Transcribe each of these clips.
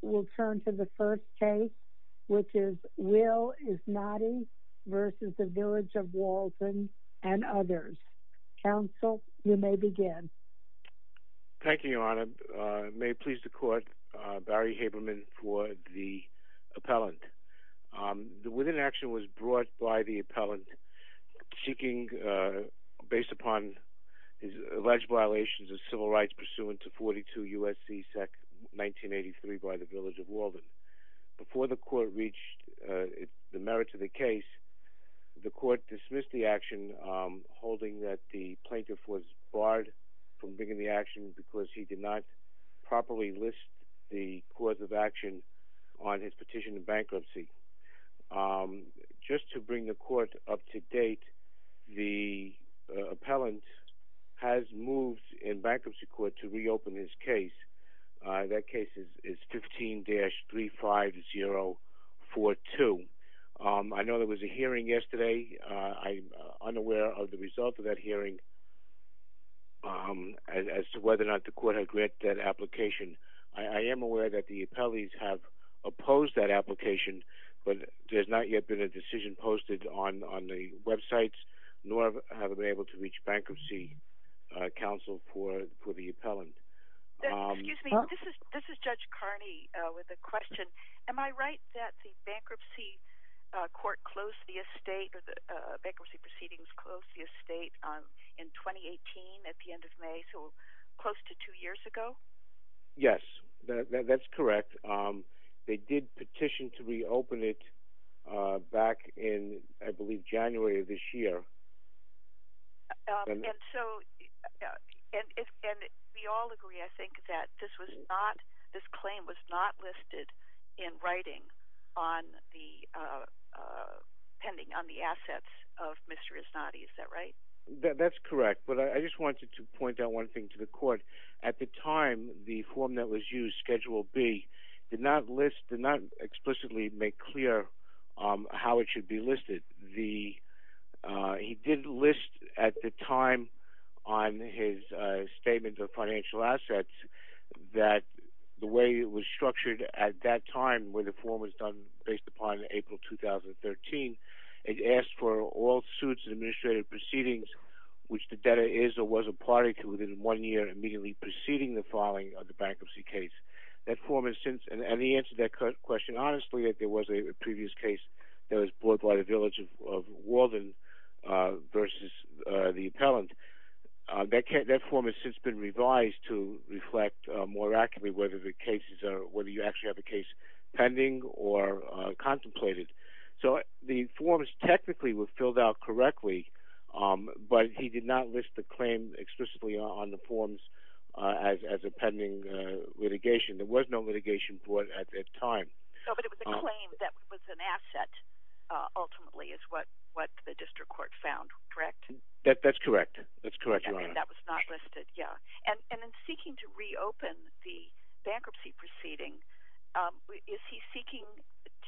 will turn to the first case, which is Will Isnady v. Village of Walden and others. Counsel, you may begin. Thank you, Your Honor. May it please the Court, Barry Haberman for the appellant. The witness action was brought by the appellant seeking, based upon his alleged violations of civil rights pursuant to 42 U.S.C. Sec. 1983 by the Village of Walden. Before the Court reached the merits of the case, the Court dismissed the action holding that the plaintiff was barred from bringing the action because he did not properly list the cause of action on his petition of bankruptcy. Just to bring the Court up to date, the appellant has moved in bankruptcy court to reopen his case. That case is 15-35042. I know there was a hearing yesterday. I'm unaware of the result of that hearing as to whether or not the Court had granted that application. I am aware that the appellees have opposed that application, but there has not yet been a decision posted on the websites, nor have they been able to reach Bankruptcy Counsel for the appellant. Excuse me. This is Judge Carney with a question. Am I right that the bankruptcy proceedings closed the estate in 2018 at the end of May, so close to two years ago? Yes, that's correct. They did petition to reopen it back in, I believe, January of this year. We all agree, I think, that this claim was not listed in writing pending on the assets of Mr. Iznati. Is that right? That's correct, but I just wanted to point out one thing to the Court. At the time, the form that was used, Schedule B, did not explicitly make clear how it should be listed. He did list at the time on his statement of financial assets that the way it was structured at that time, where the form was done based upon April 2013, it asked for all suits and administrative proceedings, which the debtor is or was a party to within one year immediately preceding the filing of the bankruptcy case. That form has since, and the answer to that question, honestly, if there was a previous case that was brought by the Village of Walden versus the appellant, that form has since been revised to reflect more accurately whether the cases are, whether you actually have a case pending or contemplated. So the forms technically were filled out correctly, but he did not list the claim explicitly on the forms as a pending litigation. There was no litigation for it at that time. But it was a claim that was an asset, ultimately, is what the District Court found, correct? That's correct. That's correct, Your Honor. And that was not listed, yeah. And in seeking to reopen the bankruptcy proceeding, is he seeking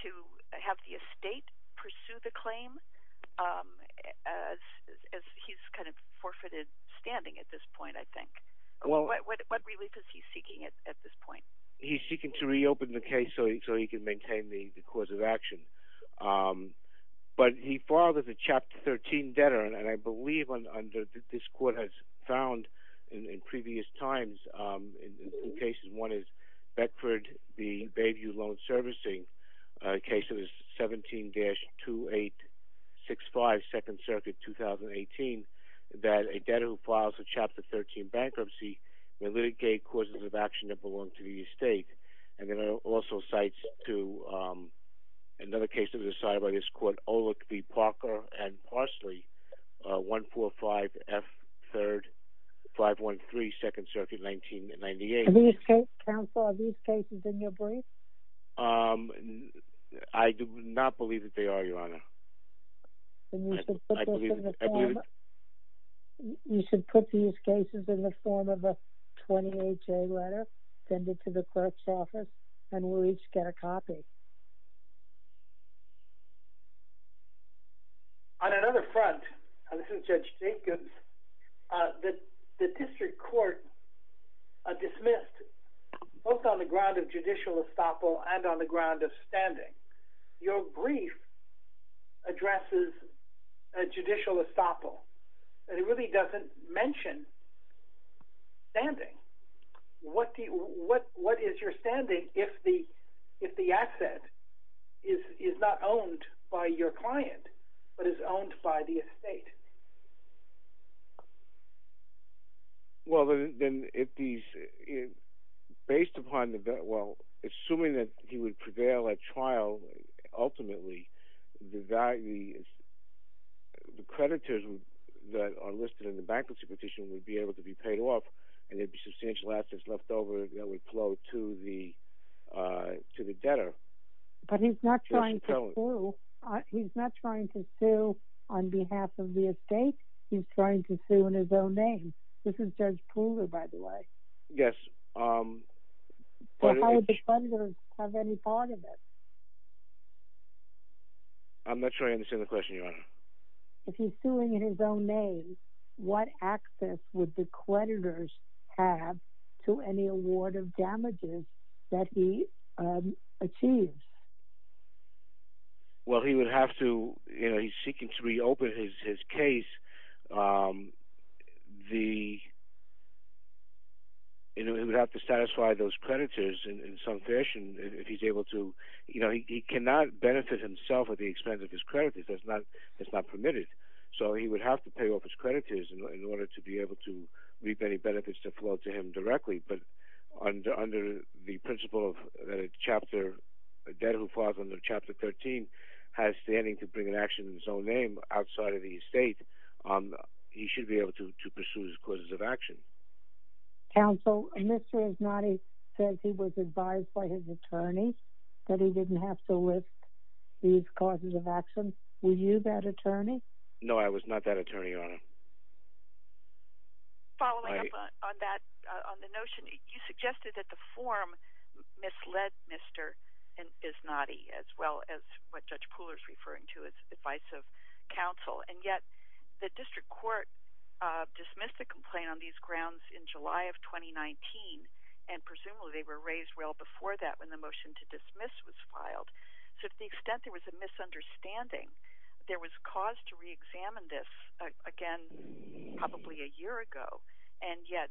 to have the estate pursue the claim as he's kind of forfeited standing at this point, I think? What relief is he seeking at this point? He's seeking to reopen the case so he can maintain the cause of action. But he filed as a Chapter 13 debtor, and I believe this court has found in previous times in two cases. One is Beckford v. Bayview Loan Servicing, case 17-2865, 2nd Circuit, 2018, that a debtor who files a Chapter 13 bankruptcy may litigate causes of action that belong to the estate. And there are also cites to another case that was decided by this court, Olick v. Parker v. Parsley, 145F 3rd 513, 2nd Circuit, 1998. Counsel, are these cases in your brief? I do not believe that they are, Your Honor. Then you should put these cases in the form of a 28-J letter, send it to the clerk's office, and we'll each get a copy. On another front, this is Judge Jacobs. The district court dismissed, both on the ground of judicial estoppel and on the ground of standing, your brief addresses a judicial estoppel, and it really doesn't mention standing. What is your standing if the asset is not owned by your client, but is owned by the estate? Well, assuming that he would prevail at trial, ultimately, the creditors that are listed in the bankruptcy petition would be able to be paid off, and there would be substantial assets left over that would flow to the debtor. But he's not trying to sue on behalf of the estate. He's trying to sue in his own name. This is Judge Pooler, by the way. Yes. How would the creditors have any part of it? If he's suing in his own name, what access would the creditors have to any award of damages that he achieves? Well, he's seeking to reopen his case. He would have to satisfy those creditors in some fashion. He cannot benefit himself at the expense of his creditors. That's not permitted. So he would have to pay off his creditors in order to be able to reap any benefits that flow to him directly. But under the principle that a debtor who falls under Chapter 13 has standing to bring an action in his own name outside of the estate, he should be able to pursue his causes of action. Counsel, Mr. Iznati says he was advised by his attorney that he didn't have to list these causes of action. Were you that attorney? No, I was not that attorney, Your Honor. Following up on that, on the notion, you suggested that the form misled Mr. Iznati as well as what Judge Pooler is referring to as advice of counsel. And yet, the district court dismissed the complaint on these grounds in July of 2019. And presumably, they were raised well before that when the motion to dismiss was filed. So to the extent there was a misunderstanding, there was cause to reexamine this again probably a year ago. And yet,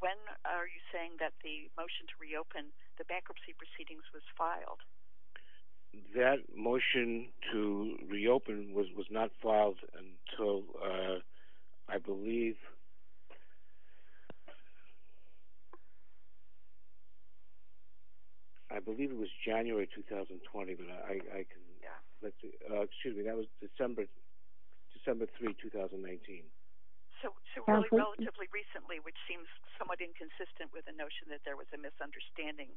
when are you saying that the motion to reopen the bankruptcy proceedings was filed? That motion to reopen was not filed until, I believe, I believe it was January 2020. Excuse me, that was December 3, 2019. So relatively recently, which seems somewhat inconsistent with the notion that there was a misunderstanding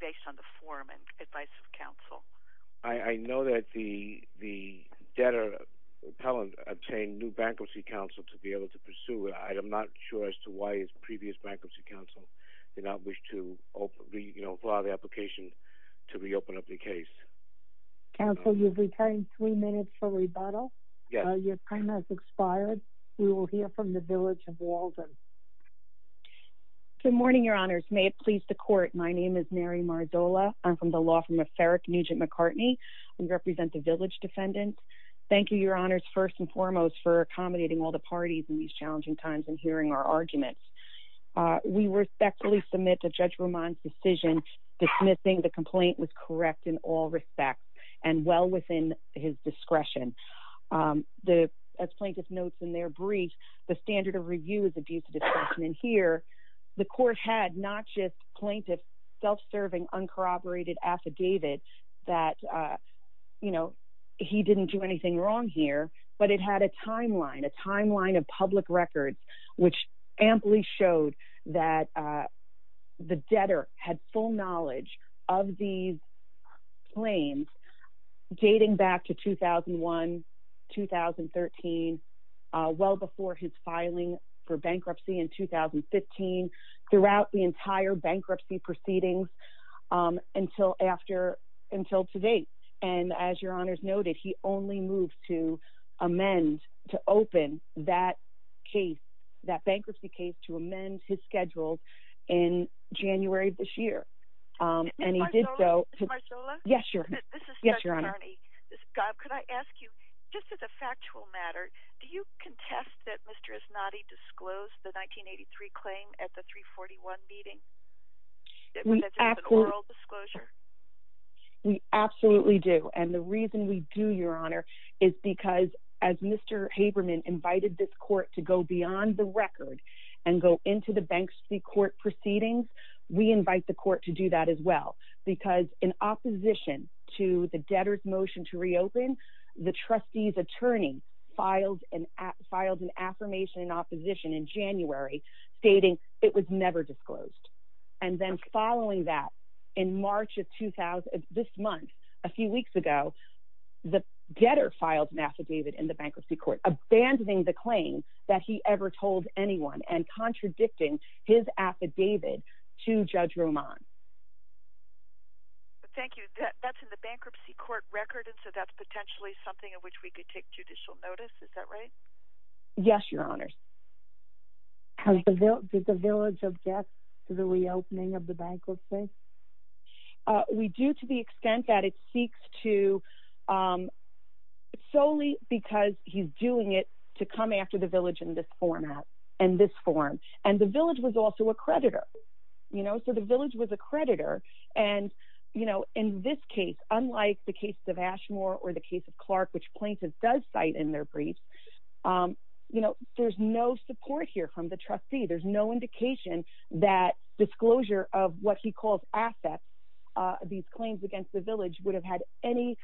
based on the form and advice of counsel. I know that the debtor, Pelland, obtained new bankruptcy counsel to be able to pursue it. I am not sure as to why his previous bankruptcy counsel did not wish to, you know, file the application to reopen up the case. Counsel, you've retained three minutes for rebuttal. Yes. Good morning, your honors. May it please the court. My name is Mary Marzola. I'm from the law firm of Farrick Nugent McCartney. We represent the Village Defendant. Thank you, your honors, first and foremost, for accommodating all the parties in these challenging times and hearing our arguments. We respectfully submit to Judge Roman's decision dismissing the complaint was correct in all respects and well within his discretion. As plaintiff notes in their brief, the standard of review is abuse of discretion in here. The court had not just plaintiff's self-serving, uncorroborated affidavit that, you know, he didn't do anything wrong here, but it had a timeline, a timeline of public records, which amply showed that the debtor had full knowledge of these claims dating back to 2001, 2013, well before his filing for bankruptcy in 2015, throughout the entire bankruptcy proceedings until after, until today. And as your honors noted, he only moved to amend, to open that case, that bankruptcy case to amend his schedule in January of this year. And he did so... Ms. Marzola? Yes, your honor. This is Judge McCartney. Yes, your honor. God, could I ask you, just as a factual matter, do you contest that Mr. Esnadi disclosed the 1983 claim at the 341 meeting? That's an oral disclosure? We absolutely do. And the reason we do, your honor, is because as Mr. Haberman invited this court to go beyond the record and go into the bankruptcy court proceedings, we invite the court to do that as well. Because in opposition to the debtor's motion to reopen, the trustee's attorney filed an affirmation in opposition in January stating it was never disclosed. And then following that, in March of this month, a few weeks ago, the debtor filed an affidavit in the bankruptcy court, abandoning the claim that he ever told anyone and contradicting his affidavit to Judge Roman. Thank you. That's in the bankruptcy court record, and so that's potentially something in which we could take judicial notice. Is that right? Yes, your honors. Does the village object to the reopening of the bankruptcy? We do to the extent that it seeks to solely because he's doing it to come after the village in this format, in this form. And the village was also a creditor, you know, so the village was a creditor. And, you know, in this case, unlike the case of Ashmore or the case of Clark, which Plaintiffs does cite in their briefs, you know, there's no support here from the trustee. There's no indication that disclosure of what he calls assets, these claims against the village, would have had any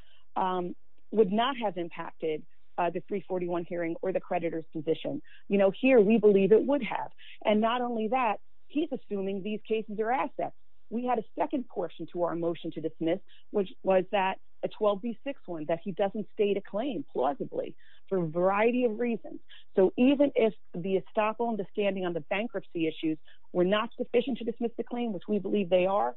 – would not have impacted the 341 hearing or the creditor's position. You know, here we believe it would have. And not only that, he's assuming these cases are assets. We had a second portion to our motion to dismiss, which was that – a 12B6 one, that he doesn't state a claim plausibly for a variety of reasons. So even if the estoppel and the standing on the bankruptcy issues were not sufficient to dismiss the claim, which we believe they are,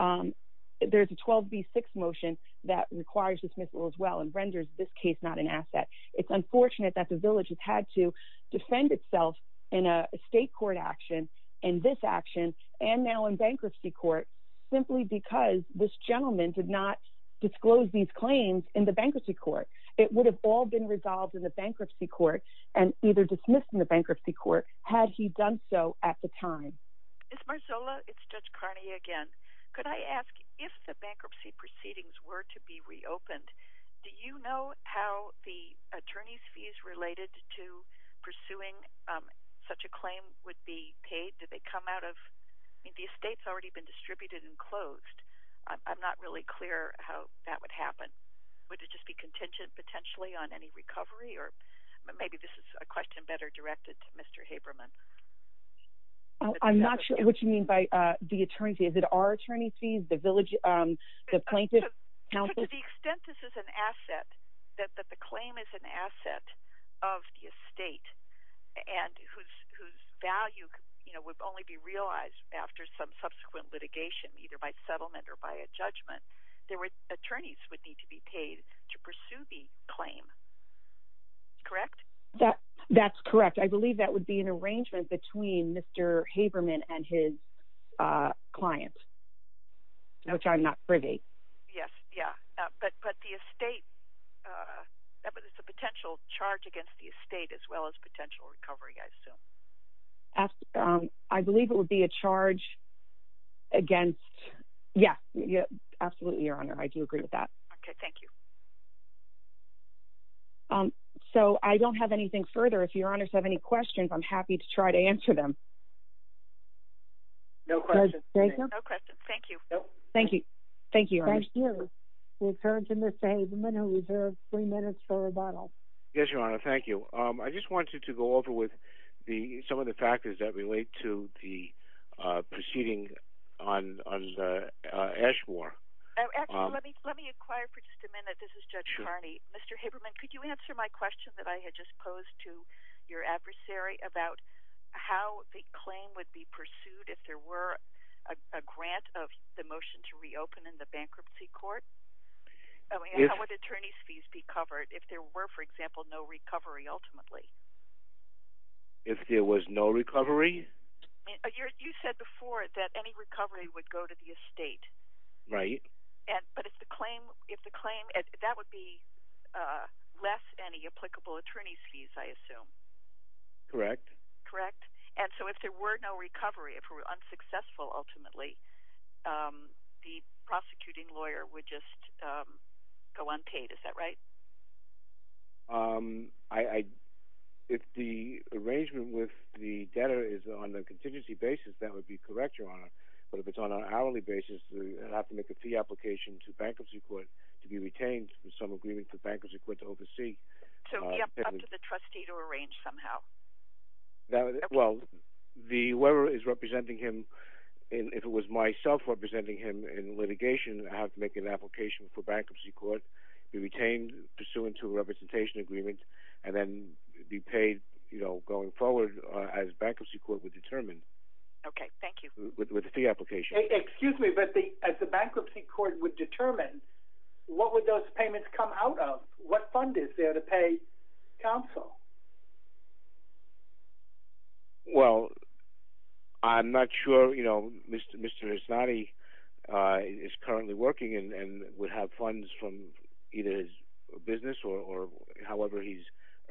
there's a 12B6 motion that requires dismissal as well and renders this case not an asset. It's unfortunate that the village has had to defend itself in a state court action, in this action, and now in bankruptcy court, simply because this gentleman did not disclose these claims in the bankruptcy court. It would have all been resolved in the bankruptcy court and either dismissed in the bankruptcy court had he done so at the time. Ms. Marzullo, it's Judge Carney again. Could I ask, if the bankruptcy proceedings were to be reopened, do you know how the attorney's fees related to pursuing such a claim would be paid? Did they come out of – I mean, the estate's already been distributed and closed. I'm not really clear how that would happen. Would it just be contingent potentially on any recovery? Or maybe this is a question better directed to Mr. Haberman. I'm not sure what you mean by the attorney's fees. Is it our attorney's fees, the plaintiff's? To the extent that this is an asset, that the claim is an asset of the estate and whose value would only be realized after some subsequent litigation, either by settlement or by a judgment, the attorneys would need to be paid to pursue the claim. Correct? That's correct. I believe that would be an arrangement between Mr. Haberman and his client, which I'm not privy. Yes, yeah. But the estate – it's a potential charge against the estate as well as potential recovery, I assume. I believe it would be a charge against – yeah, absolutely, Your Honor. I do agree with that. Okay, thank you. So I don't have anything further. If Your Honors have any questions, I'm happy to try to answer them. No questions. Thank you. Thank you. Thank you, Your Honors. Thank you. We turn to Mr. Haberman, who reserves three minutes for rebuttal. Yes, Your Honor. Thank you. I just wanted to go over with some of the factors that relate to the proceeding on the Eshmore. Actually, let me inquire for just a minute. This is Judge Kearney. Mr. Haberman, could you answer my question that I had just posed to your adversary about how the claim would be pursued if there were a grant of the motion to reopen in the bankruptcy court? How would attorney's fees be covered if there were, for example, no recovery ultimately? If there was no recovery? Right. But if the claim – that would be less than the applicable attorney's fees, I assume. Correct. Correct. And so if there were no recovery, if it were unsuccessful ultimately, the prosecuting lawyer would just go unpaid. Is that right? If the arrangement with the debtor is on the contingency basis, that would be correct, Your Honor. But if it's on an hourly basis, I'd have to make a fee application to the bankruptcy court to be retained with some agreement for the bankruptcy court to oversee. So up to the trustee to arrange somehow. Well, whoever is representing him – if it was myself representing him in litigation, I'd have to make an application for bankruptcy court to be retained pursuant to a representation agreement and then be paid going forward as bankruptcy court would determine. Okay. Thank you. With the fee application. Excuse me. But as the bankruptcy court would determine, what would those payments come out of? What fund is there to pay counsel? Well, I'm not sure. You know, Mr. Esnadi is currently working and would have funds from either his business or however he's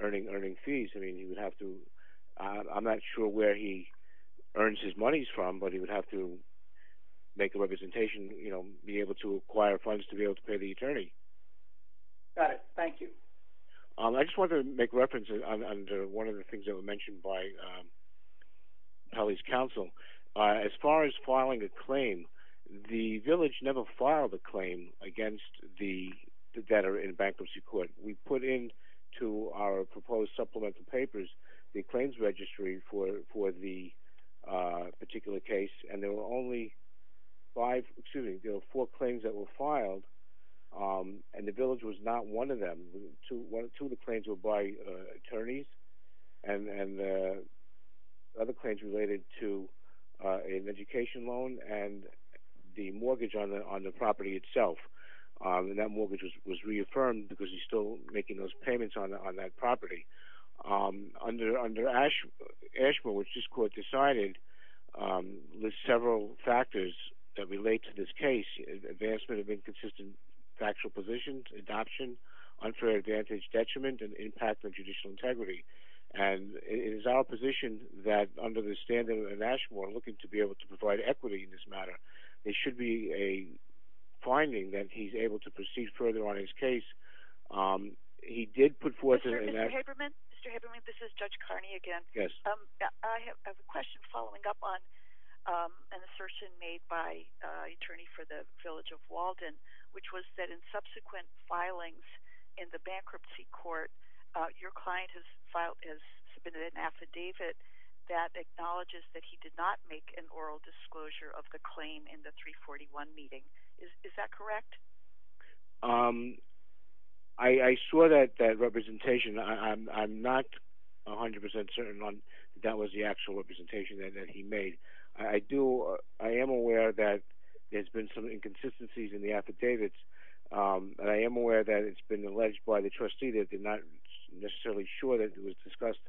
earning fees. I mean, he would have to – I'm not sure where he earns his monies from, but he would have to make a representation, be able to acquire funds to be able to pay the attorney. Got it. Thank you. I just wanted to make reference under one of the things that were mentioned by Kelly's counsel. As far as filing a claim, the village never filed a claim against the debtor in bankruptcy court. We put into our proposed supplemental papers the claims registry for the particular case, and there were only five – excuse me, there were four claims that were filed, and the village was not one of them. Two of the claims were by attorneys and other claims related to an education loan and the mortgage on the property itself. And that mortgage was reaffirmed because he's still making those payments on that property. Under Ashmore, which this court decided, lists several factors that relate to this case, advancement of inconsistent factual positions, adoption, unfair advantage, detriment, and impact on judicial integrity. And it is our position that under the standard of Ashmore, looking to be able to provide equity in this matter, there should be a finding that he's able to proceed further on his case. He did put forth – Mr. Haberman? Mr. Haberman, this is Judge Carney again. Yes. I have a question following up on an assertion made by an attorney for the village of Walden, which was that in subsequent filings in the bankruptcy court, your client has submitted an affidavit that acknowledges that he did not make an oral disclosure of the claim in the 341 meeting. Is that correct? I saw that representation. I'm not 100% certain that that was the actual representation that he made. I am aware that there's been some inconsistencies in the affidavits, and I am aware that it's been alleged by the trustee that they're not necessarily sure that it was discussed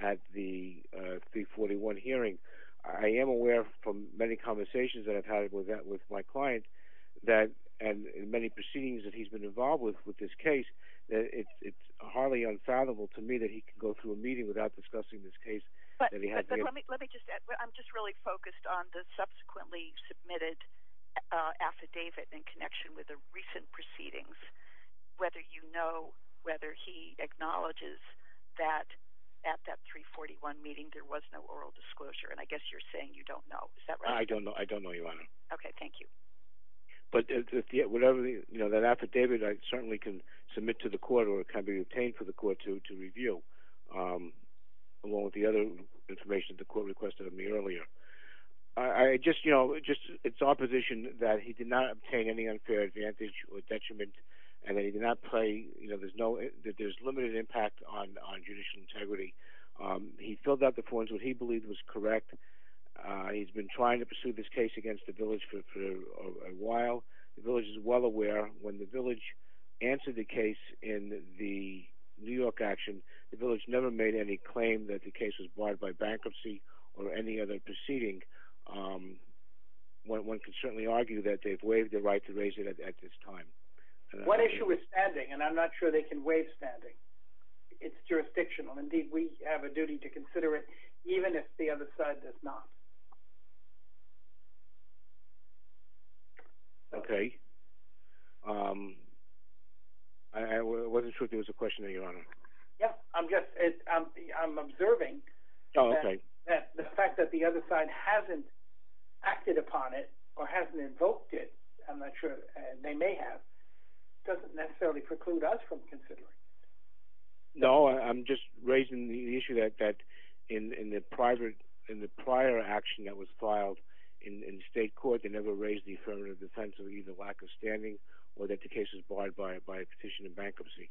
at the 341 hearing. I am aware from many conversations that I've had with my client and many proceedings that he's been involved with with this case that it's hardly unfathomable to me that he could go through a meeting without discussing this case. But let me just – I'm just really focused on the subsequently submitted affidavit in connection with the recent proceedings, whether you know whether he acknowledges that at that 341 meeting there was no oral disclosure. And I guess you're saying you don't know. Is that right? I don't know. I don't know, Your Honor. Okay. Thank you. But whatever – that affidavit, I certainly can submit to the court or it can be obtained for the court to review, along with the other information the court requested of me earlier. I just – it's our position that he did not obtain any unfair advantage or detriment and that he did not play – that there's limited impact on judicial integrity. He filled out the forms, which he believed was correct. He's been trying to pursue this case against the village for a while. The village is well aware when the village answered the case in the New York action, the village never made any claim that the case was barred by bankruptcy or any other proceeding. One can certainly argue that they've waived the right to raise it at this time. One issue is standing, and I'm not sure they can waive standing. It's jurisdictional. Indeed, we have a duty to consider it, even if the other side does not. Okay. I wasn't sure if there was a question there, Your Honor. Yes, I'm just – I'm observing that the fact that the other side hasn't acted upon it or hasn't invoked it – I'm not sure they may have – doesn't necessarily preclude us from considering it. No, I'm just raising the issue that in the prior action that was filed in state court, they never raised the affirmative defense of either lack of standing or that the case was barred by a petition of bankruptcy.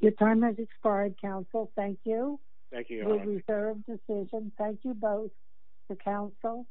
Your time has expired, counsel. Thank you. Thank you, Your Honor. A reserved decision. Thank you both to counsel.